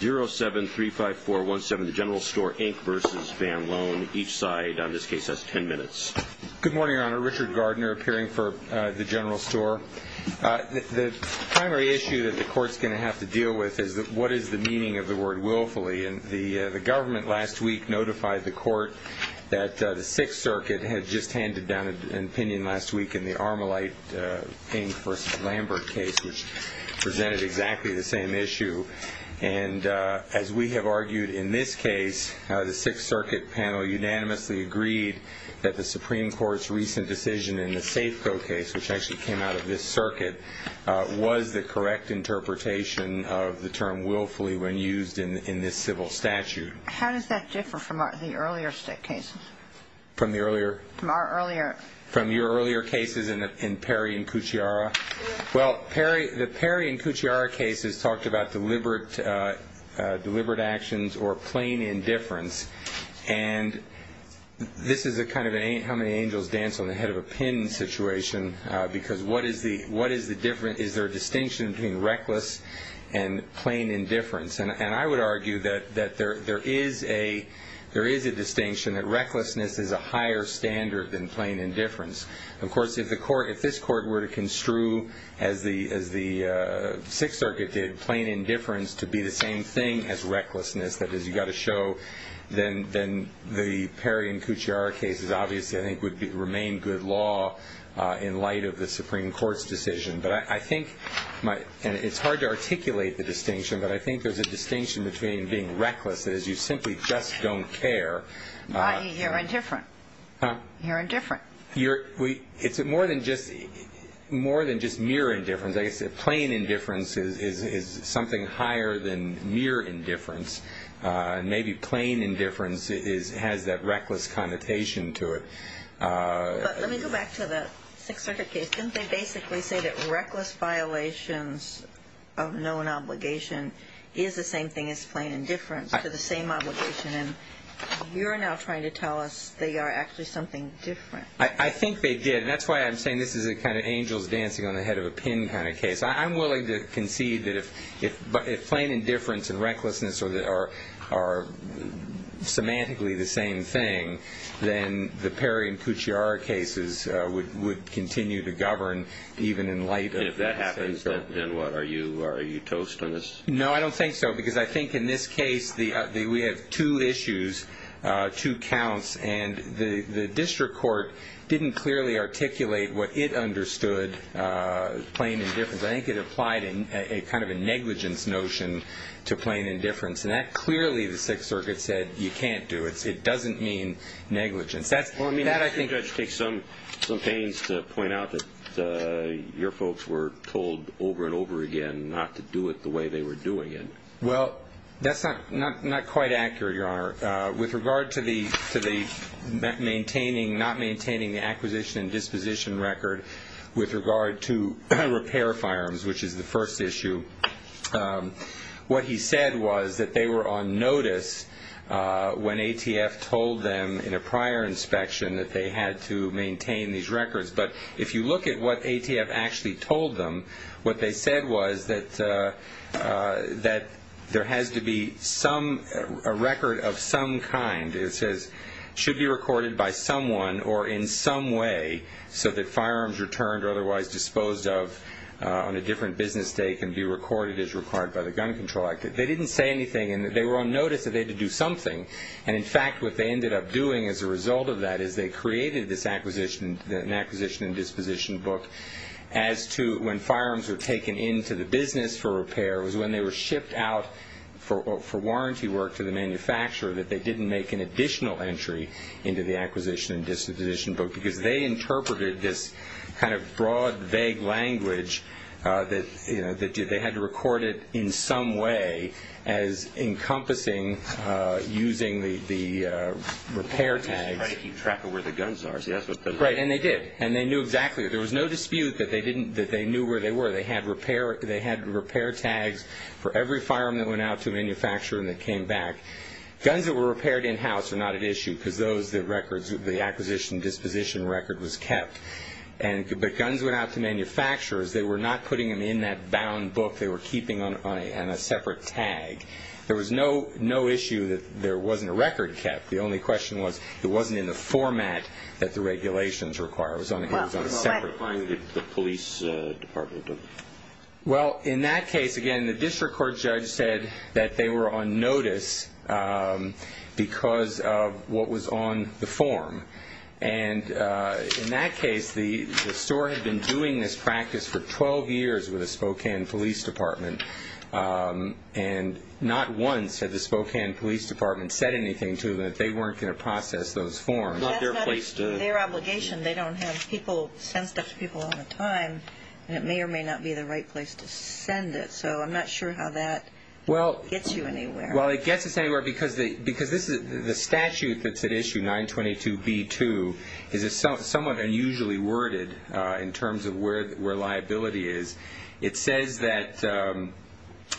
0735417, The General Store, Inc. v. Van Loan. Each side on this case has 10 minutes. Good morning, Your Honor. Richard Gardner, appearing for The General Store. The primary issue that the Court's going to have to deal with is what is the meaning of the word willfully, and the government last week notified the Court that the Sixth Circuit had just handed down an opinion last week in the Armolite, Inc. v. Lambert case, which presented exactly the same issue. And as we have argued in this case, the Sixth Circuit panel unanimously agreed that the Supreme Court's recent decision in the Safeco case, which actually came out of this circuit, was the correct interpretation of the term willfully when used in this civil statute. How does that differ from the earlier cases? From the earlier? From our earlier. From the earlier cases in Perry v. Cucciara? Well, the Perry v. Cucciara case has talked about deliberate actions or plain indifference, and this is a kind of how many angels dance on the head of a pin situation, because what is the difference? Is there a distinction between reckless and plain indifference? And I would argue that there is a distinction that recklessness is a higher standard than plain indifference. Of course, if this Court were to construe, as the Sixth Circuit did, plain indifference to be the same thing as recklessness, that is, you've got to show, then the Perry v. Cucciara case obviously I think would remain good law in light of the Supreme Court's decision. And it's hard to articulate the distinction, but I think there's a distinction between being reckless as you simply just don't care. You're indifferent. Huh? You're indifferent. It's more than just mere indifference. I guess plain indifference is something higher than mere indifference, and maybe plain indifference has that reckless connotation to it. But let me go back to the Sixth Circuit case. Didn't they basically say that reckless violations of known obligation is the same thing as plain indifference, to the same obligation? And you're now trying to tell us they are actually something different. I think they did, and that's why I'm saying this is a kind of angels dancing on the head of a pin kind of case. I'm willing to concede that if plain indifference and recklessness are semantically the same thing, then the Perry and Cucciaro cases would continue to govern even in light of that. And if that happens, then what? Are you toast on this? No, I don't think so, because I think in this case we have two issues, two counts, and the district court didn't clearly articulate what it understood plain indifference. I think it applied a kind of a negligence notion to plain indifference, and that clearly the Sixth Circuit said you can't do it. It doesn't mean negligence. Well, Judge, it takes some pains to point out that your folks were told over and over again not to do it the way they were doing it. Well, that's not quite accurate, Your Honor. With regard to not maintaining the acquisition and disposition record, with regard to repair firearms, which is the first issue, what he said was that they were on notice when ATF told them in a prior inspection that they had to maintain these records. But if you look at what ATF actually told them, what they said was that there has to be a record of some kind, it says, should be recorded by someone or in some way so that firearms returned or otherwise disposed of on a different business day can be recorded as required by the Gun Control Act. They didn't say anything, and they were on notice that they had to do something. And, in fact, what they ended up doing as a result of that is they created this acquisition and disposition book as to when firearms were taken into the business for repair, it was when they were shipped out for warranty work to the manufacturer that they didn't make an additional entry into the acquisition and disposition book because they interpreted this kind of broad, vague language that they had to record it in some way as encompassing using the repair tags. They had to try to keep track of where the guns are. Right, and they did, and they knew exactly. There was no dispute that they knew where they were. They had repair tags for every firearm that went out to a manufacturer and that came back. Guns that were repaired in-house are not at issue because the acquisition and disposition record was kept. But guns went out to manufacturers. They were not putting them in that bound book. They were keeping them on a separate tag. There was no issue that there wasn't a record kept. The only question was it wasn't in the format that the regulations require. It was on a separate book. Well, what about the police department? Well, in that case, again, the district court judge said that they were on notice because of what was on the form. In that case, the store had been doing this practice for 12 years with the Spokane Police Department, and not once had the Spokane Police Department said anything to them that they weren't going to process those forms. That's not their obligation. They don't have people send stuff to people all the time, and it may or may not be the right place to send it. So I'm not sure how that gets you anywhere. Well, it gets us anywhere because the statute that's at issue, 922B2, is somewhat unusually worded in terms of where liability is. It says that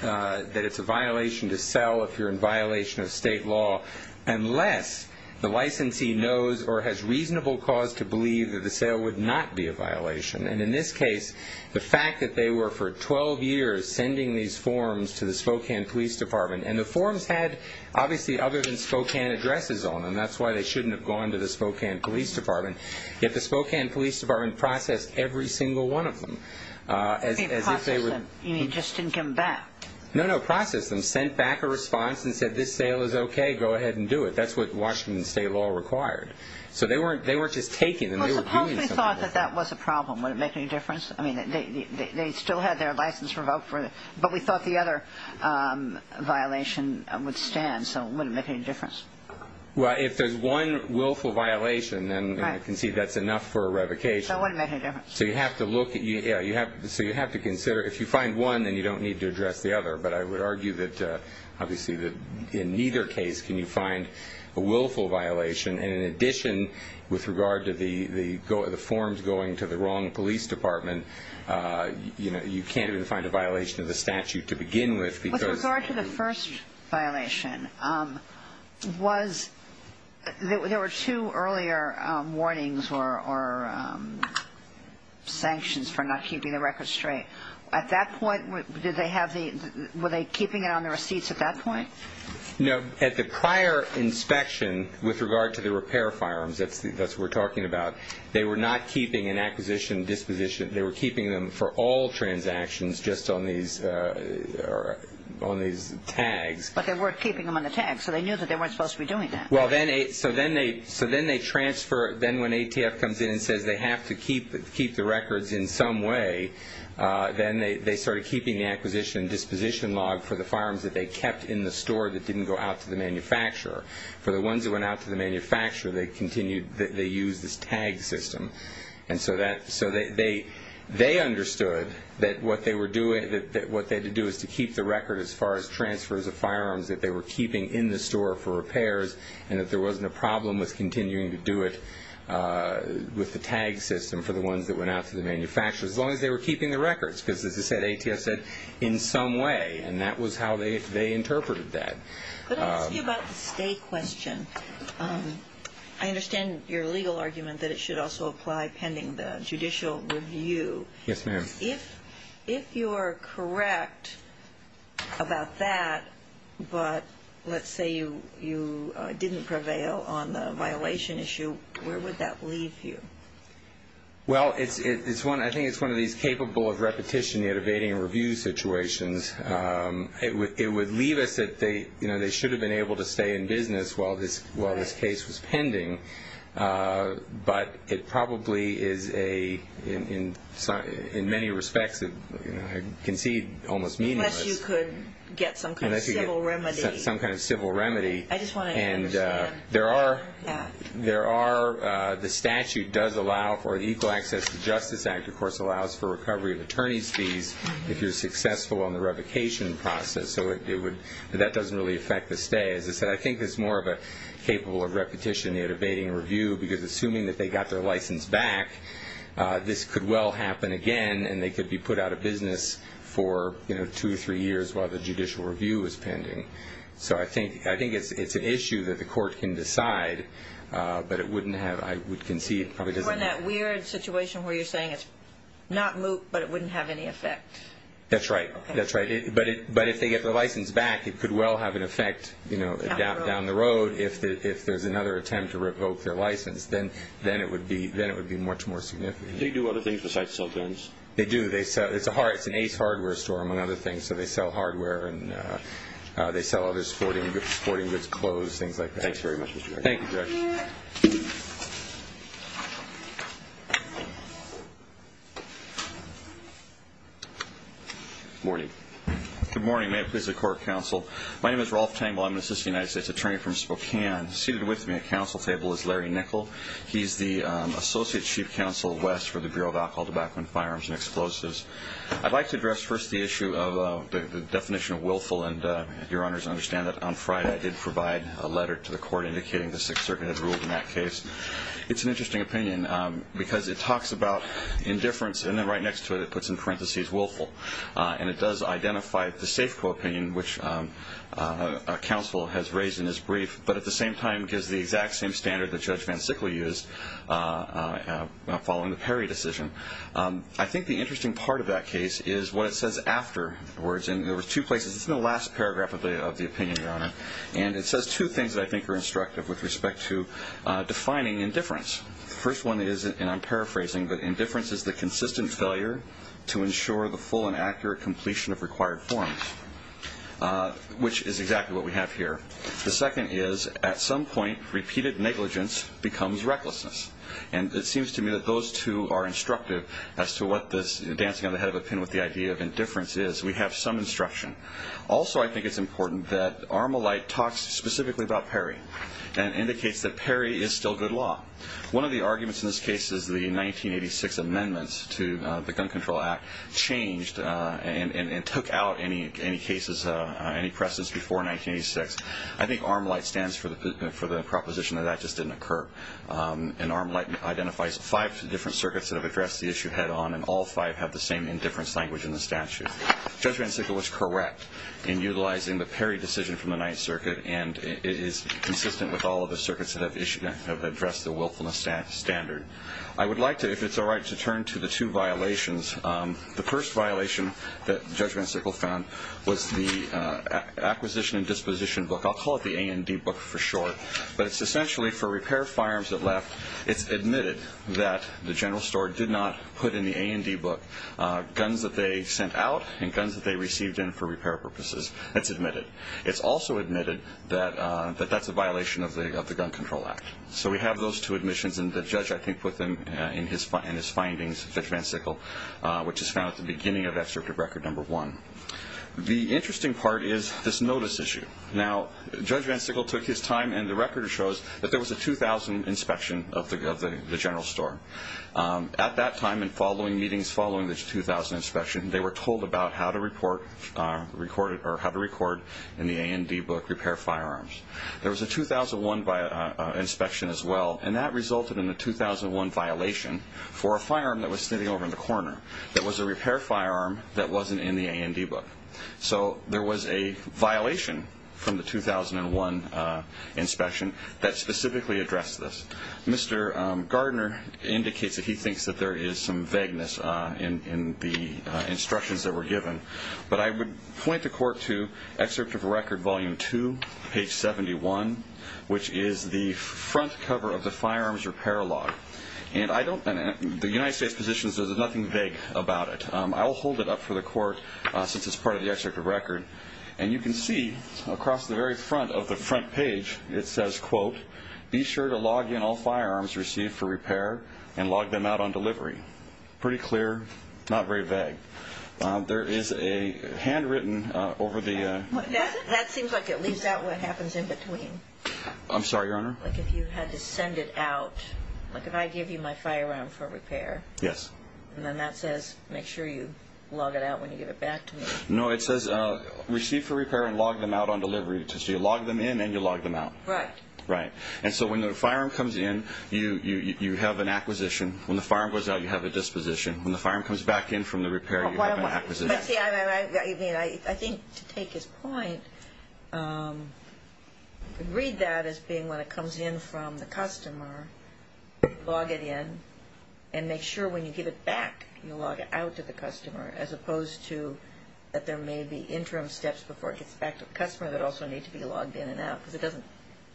it's a violation to sell if you're in violation of state law unless the licensee knows or has reasonable cause to believe that the sale would not be a violation. And in this case, the fact that they were for 12 years sending these forms to the Spokane Police Department, and the forms had obviously other than Spokane addresses on them. That's why they shouldn't have gone to the Spokane Police Department. Yet the Spokane Police Department processed every single one of them as if they were... You mean just didn't come back. No, no, processed them, sent back a response and said, this sale is okay, go ahead and do it. That's what Washington state law required. So they weren't just taking them. Well, suppose we thought that that was a problem. Would it make any difference? I mean, they still had their license revoked, but we thought the other violation would stand, so it wouldn't make any difference. Well, if there's one willful violation, then you can see that's enough for a revocation. So it wouldn't make any difference. So you have to consider, if you find one, then you don't need to address the other. But I would argue that obviously in neither case can you find a willful violation. And in addition, with regard to the forms going to the wrong police department, you can't even find a violation of the statute to begin with because... With regard to the first violation, there were two earlier warnings or sanctions for not keeping the records straight. At that point, were they keeping it on the receipts at that point? No. At the prior inspection, with regard to the repair firearms, that's what we're talking about, they were not keeping an acquisition disposition. They were keeping them for all transactions just on these tags. But they weren't keeping them on the tags, so they knew that they weren't supposed to be doing that. So then they transfer. Then when ATF comes in and says they have to keep the records in some way, then they started keeping the acquisition disposition log for the firearms that they kept in the store that didn't go out to the manufacturer. For the ones that went out to the manufacturer, they used this tag system. And so they understood that what they had to do was to keep the record as far as transfers of firearms that they were keeping in the store for repairs and that there wasn't a problem with continuing to do it with the tag system for the ones that went out to the manufacturer. As long as they were keeping the records because, as I said, ATF said in some way, and that was how they interpreted that. Let me ask you about the stay question. I understand your legal argument that it should also apply pending the judicial review. Yes, ma'am. If you are correct about that, but let's say you didn't prevail on the violation issue, where would that leave you? Well, I think it's one of these capable of repetition, evading review situations. It would leave us that they should have been able to stay in business while this case was pending, but it probably is in many respects, I concede, almost meaningless. Unless you could get some kind of civil remedy. Some kind of civil remedy. I just want to understand. There are the statute does allow for the Equal Access to Justice Act, of course, allows for recovery of attorney's fees if you're successful on the revocation process. So that doesn't really affect the stay. As I said, I think it's more of a capable of repetition, evading review, because assuming that they got their license back, this could well happen again, and they could be put out of business for two or three years while the judicial review is pending. So I think it's an issue that the court can decide, but I would concede it probably doesn't. You're in that weird situation where you're saying it's not moot, but it wouldn't have any effect. That's right. That's right. But if they get their license back, it could well have an effect down the road. If there's another attempt to revoke their license, then it would be much more significant. Do they do other things besides sell guns? They do. It's an Ace Hardware store, among other things. So they sell hardware and they sell other sporting goods, clothes, things like that. Thanks very much. Thank you, Judge. Good morning. Good morning. May it please the Court of Counsel. My name is Rolf Tangle. I'm an assistant United States attorney from Spokane. Seated with me at counsel table is Larry Nickel. He's the Associate Chief Counsel West for the Bureau of Alcohol, Tobacco, and Firearms and Explosives. I'd like to address first the issue of the definition of willful. And your Honors, understand that on Friday I did provide a letter to the Court indicating the Sixth Circuit had ruled in that case. It's an interesting opinion because it talks about indifference, and then right next to it it puts in parentheses willful. And it does identify the SAFCO opinion, which counsel has raised in his brief, but at the same time gives the exact same standard that Judge Van Sickle used following the Perry decision. I think the interesting part of that case is what it says afterwards. And there were two places. It's in the last paragraph of the opinion, Your Honor. And it says two things that I think are instructive with respect to defining indifference. The first one is, and I'm paraphrasing, but indifference is the consistent failure to ensure the full and accurate completion of required forms, which is exactly what we have here. The second is at some point repeated negligence becomes recklessness. And it seems to me that those two are instructive as to what this dancing on the head of a pin with the idea of indifference is. We have some instruction. Also, I think it's important that Armolite talks specifically about Perry and indicates that Perry is still good law. One of the arguments in this case is the 1986 amendments to the Gun Control Act changed and took out any cases, any presses before 1986. I think Armolite stands for the proposition that that just didn't occur. And Armolite identifies five different circuits that have addressed the issue head on, and all five have the same indifference language in the statute. Judge Van Sickle was correct in utilizing the Perry decision from the Ninth Circuit, and it is consistent with all of the circuits that have addressed the willfulness standard. I would like to, if it's all right, to turn to the two violations. The first violation that Judge Van Sickle found was the acquisition and disposition book. I'll call it the A&D book for short. But it's essentially for repair firearms that left. It's admitted that the general store did not put in the A&D book guns that they sent out and guns that they received in for repair purposes. That's admitted. It's also admitted that that's a violation of the Gun Control Act. So we have those two admissions, and the judge, I think, put them in his findings, Judge Van Sickle, which is found at the beginning of Excerpt of Record No. 1. The interesting part is this notice issue. Now, Judge Van Sickle took his time, and the record shows that there was a 2000 inspection of the general store. At that time and following meetings following the 2000 inspection, they were told about how to record in the A&D book repair firearms. There was a 2001 inspection as well, and that resulted in a 2001 violation for a firearm that was sitting over in the corner that was a repair firearm that wasn't in the A&D book. So there was a violation from the 2001 inspection that specifically addressed this. Mr. Gardner indicates that he thinks that there is some vagueness in the instructions that were given, but I would point the court to Excerpt of Record Volume 2, page 71, which is the front cover of the firearms repair log. And the United States positions, there's nothing vague about it. I will hold it up for the court since it's part of the Excerpt of Record. And you can see across the very front of the front page, it says, quote, be sure to log in all firearms received for repair and log them out on delivery. Pretty clear, not very vague. There is a handwritten over the— That seems like it leaves out what happens in between. I'm sorry, Your Honor? Like if you had to send it out, like if I give you my firearm for repair. Yes. And then that says make sure you log it out when you give it back to me. No, it says receive for repair and log them out on delivery. So you log them in and you log them out. Right. Right. And so when the firearm comes in, you have an acquisition. When the firearm goes out, you have a disposition. When the firearm comes back in from the repair, you have an acquisition. See, I think to take his point, read that as being when it comes in from the customer, log it in, and make sure when you give it back, you log it out to the customer, as opposed to that there may be interim steps before it gets back to the customer that also need to be logged in and out because it doesn't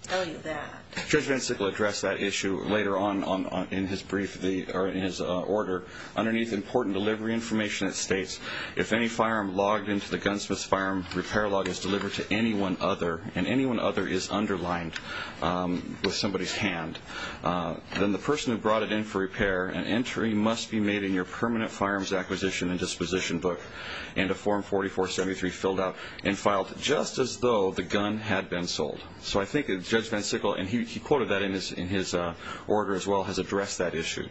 tell you that. Judge Vensic will address that issue later on in his order. Underneath, important delivery information that states, if any firearm logged into the gunsmith's firearm repair log is delivered to anyone other, and anyone other is underlined with somebody's hand, then the person who brought it in for repair, an entry must be made in your permanent firearms acquisition and disposition book into form 4473 filled out and filed just as though the gun had been sold. So I think Judge Vensic, and he quoted that in his order as well, has addressed that issue.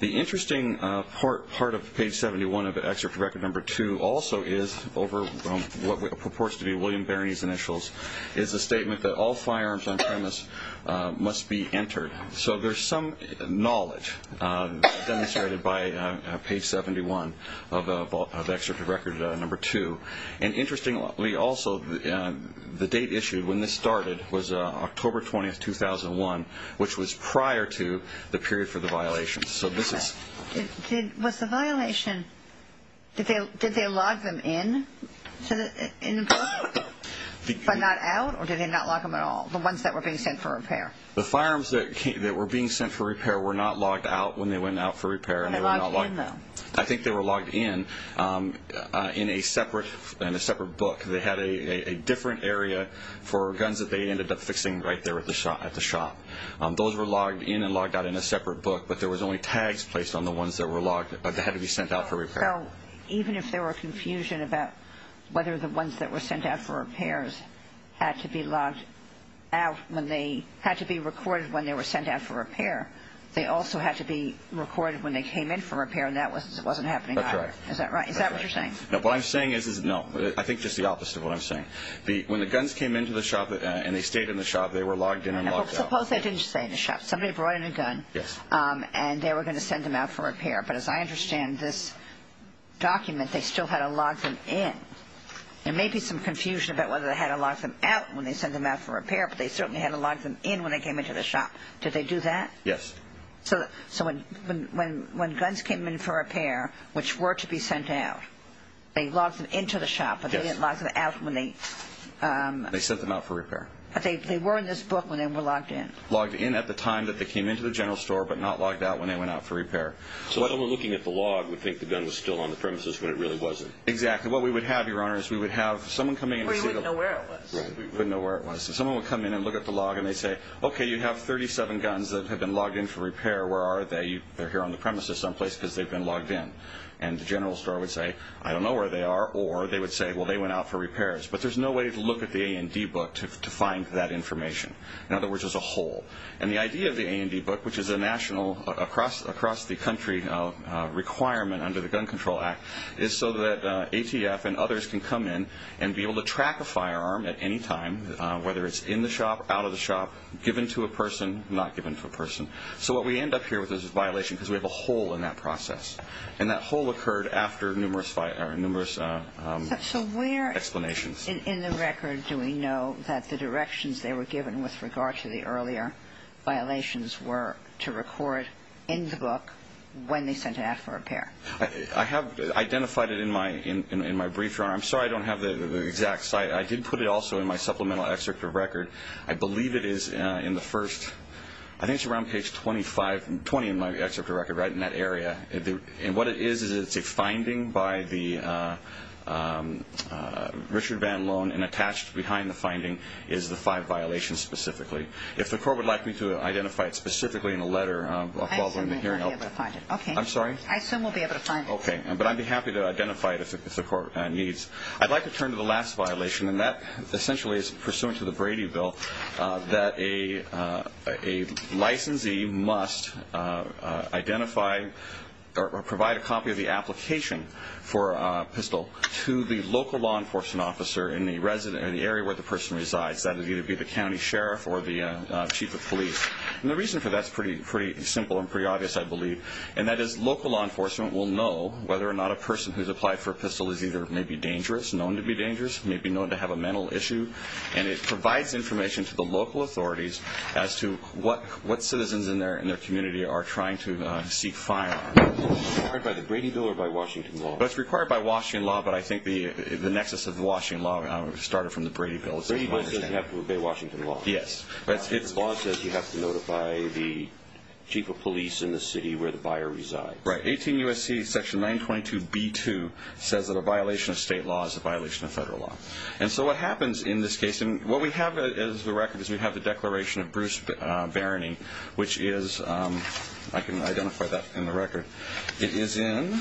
The interesting part of page 71 of excerpt record number 2 also is over what purports to be Jim Barney's initials is a statement that all firearms on premise must be entered. So there's some knowledge demonstrated by page 71 of excerpt record number 2. And interestingly also, the date issued when this started was October 20, 2001, which was prior to the period for the violations. Was the violation, did they log them in? But not out, or did they not log them at all, the ones that were being sent for repair? The firearms that were being sent for repair were not logged out when they went out for repair. Were they logged in though? I think they were logged in, in a separate book. They had a different area for guns that they ended up fixing right there at the shop. Those were logged in and logged out in a separate book, but there was only tags placed on the ones that had to be sent out for repair. So even if there were confusion about whether the ones that were sent out for repairs had to be logged out when they had to be recorded when they were sent out for repair, they also had to be recorded when they came in for repair, and that wasn't happening either. That's right. Is that right? Is that what you're saying? What I'm saying is, no, I think just the opposite of what I'm saying. When the guns came into the shop and they stayed in the shop, they were logged in and logged out. Well, suppose they didn't stay in the shop. Somebody brought in a gun, and they were going to send them out for repair. But as I understand this document, they still had to log them in. There may be some confusion about whether they had to log them out when they sent them out for repair, but they certainly had to log them in when they came into the shop. Did they do that? Yes. So when guns came in for repair, which were to be sent out, they logged them into the shop, but they didn't log them out when they… They sent them out for repair. But they were in this book when they were logged in. Logged in at the time that they came into the general store, but not logged out when they went out for repair. So someone looking at the log would think the gun was still on the premises when it really wasn't. Exactly. What we would have, Your Honor, is we would have someone come in… Or you wouldn't know where it was. Right. We wouldn't know where it was. So someone would come in and look at the log, and they'd say, okay, you have 37 guns that have been logged in for repair. Where are they? They're here on the premises someplace because they've been logged in. And the general store would say, I don't know where they are. Or they would say, well, they went out for repairs. But there's no way to look at the A&D book to find that information. In other words, there's a hole. And the idea of the A&D book, which is a national, across the country requirement under the Gun Control Act, is so that ATF and others can come in and be able to track a firearm at any time, whether it's in the shop, out of the shop, given to a person, not given to a person. So what we end up here with is a violation because we have a hole in that process. And that hole occurred after numerous explanations. So where in the record do we know that the directions they were given with regard to the earlier violations were to record in the book when they sent it out for repair? I have identified it in my brief, Your Honor. I'm sorry I don't have the exact site. I did put it also in my supplemental excerpt of record. I believe it is in the first, I think it's around page 25, 20 in my excerpt of record, right, in that area. And what it is is it's a finding by the Richard Van Loon, and attached behind the finding is the five violations specifically. If the court would like me to identify it specifically in a letter, I'll call during the hearing. I assume we'll be able to find it. I'm sorry? I assume we'll be able to find it. Okay, but I'd be happy to identify it if the court needs. I'd like to turn to the last violation, and that essentially is pursuant to the Brady Bill, that a licensee must identify or provide a copy of the application for a pistol to the local law enforcement officer in the area where the person resides. That would either be the county sheriff or the chief of police. And the reason for that is pretty simple and pretty obvious, I believe, and that is local law enforcement will know whether or not a person who's applied for a pistol is either maybe dangerous, known to be dangerous, may be known to have a mental issue, and it provides information to the local authorities as to what citizens in their community are trying to seek fire on. Is it required by the Brady Bill or by Washington law? It's required by Washington law, but I think the nexus of Washington law started from the Brady Bill. Brady Bill doesn't have to obey Washington law. Yes. The law says you have to notify the chief of police in the city where the buyer resides. Right. 18 U.S.C. section 922B2 says that a violation of state law is a violation of federal law. And so what happens in this case, and what we have as the record is we have the declaration of Bruce Barony, which is, I can identify that in the record. It is in,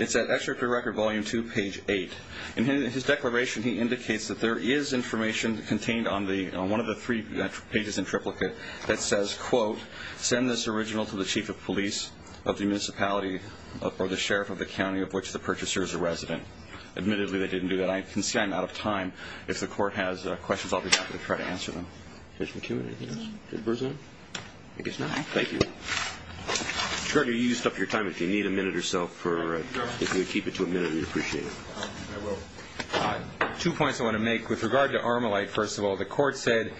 it's at Excerpt of Record Volume 2, page 8. In his declaration, he indicates that there is information contained on one of the three pages in triplicate that says, quote, send this original to the chief of police of the municipality or the sheriff of the county of which the purchaser is a resident. Admittedly, they didn't do that. I can see I'm out of time. If the court has questions, I'll be happy to try to answer them. Mr. McEwen, anything to add? I guess not. Thank you. Mr. Gardner, you used up your time. If you need a minute or so, if you could keep it to a minute, we'd appreciate it. I will. Two points I want to make. With regard to Armalite, first of all, the court said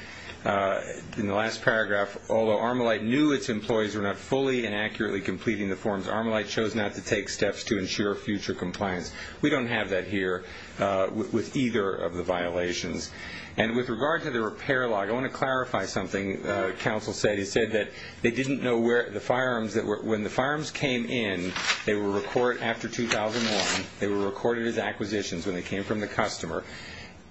in the last paragraph, although Armalite knew its employees were not fully and accurately completing the forms, Armalite chose not to take steps to ensure future compliance. We don't have that here with either of the violations. And with regard to the repair log, I want to clarify something the counsel said. He said that they didn't know where the firearms that were, when the firearms came in, they were recorded after 2001. They were recorded as acquisitions when they came from the customer.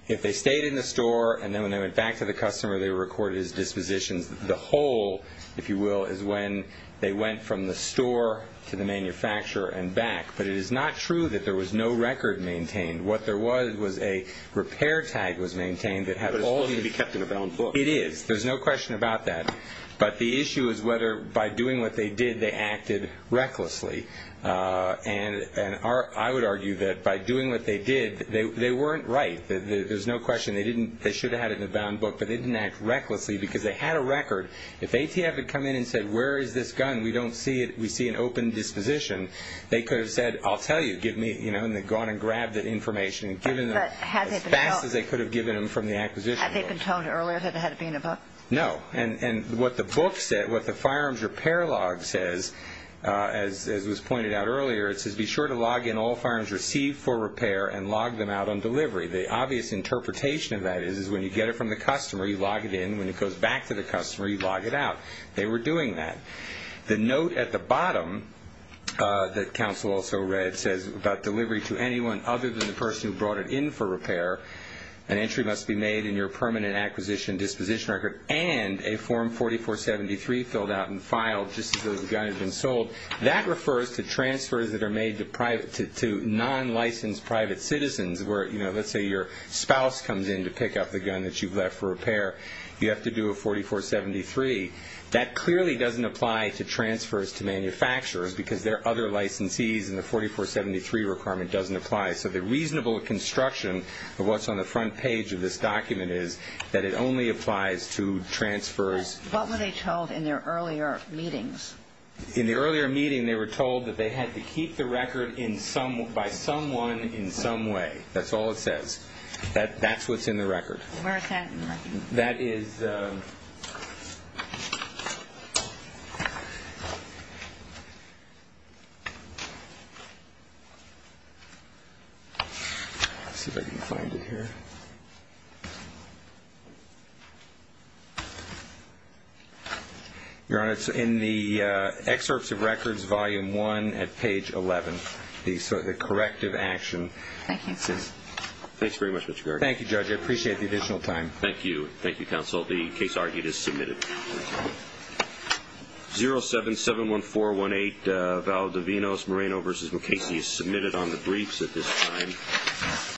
If they stayed in the store and then when they went back to the customer, they were recorded as dispositions. The whole, if you will, is when they went from the store to the manufacturer and back. But it is not true that there was no record maintained. What there was was a repair tag was maintained that had all of these. It was supposed to be kept in a bound book. It is. There's no question about that. But the issue is whether by doing what they did, they acted recklessly. And I would argue that by doing what they did, they weren't right. There's no question. They didn't, they should have had it in a bound book, but they didn't act recklessly because they had a record. If ATF had come in and said, where is this gun? We don't see it. We see an open disposition. They could have said, I'll tell you. Give me, you know, and they'd gone and grabbed that information and given them as fast as they could have given them from the acquisition. Had they been told earlier that it had to be in a book? No. And what the book said, what the firearms repair log says, as was pointed out earlier, it says be sure to log in all firearms received for repair and log them out on delivery. The obvious interpretation of that is when you get it from the customer, you log it in. When it goes back to the customer, you log it out. They were doing that. The note at the bottom that counsel also read says about delivery to anyone other than the person who brought it in for repair, an entry must be made in your permanent acquisition disposition record and a form 4473 filled out and filed just as the gun had been sold. That refers to transfers that are made to non-licensed private citizens where, you know, let's say your spouse comes in to pick up the gun that you've left for repair. You have to do a 4473. That clearly doesn't apply to transfers to manufacturers because there are other licensees and the 4473 requirement doesn't apply. So the reasonable construction of what's on the front page of this document is that it only applies to transfers. What were they told in their earlier meetings? In the earlier meeting, they were told that they had to keep the record by someone in some way. That's all it says. That's what's in the record. Where is that in the record? That is... Let's see if I can find it here. Your Honor, it's in the Excerpts of Records Volume 1 at page 11, the corrective action. Thank you. Thanks very much, Mr. Gargan. Thank you, Judge. I appreciate the additional time. Thank you. Thank you, Counsel. The case argued is submitted. 0771418, Valdovinos, Moreno v. McCasey is submitted on the briefs at this time.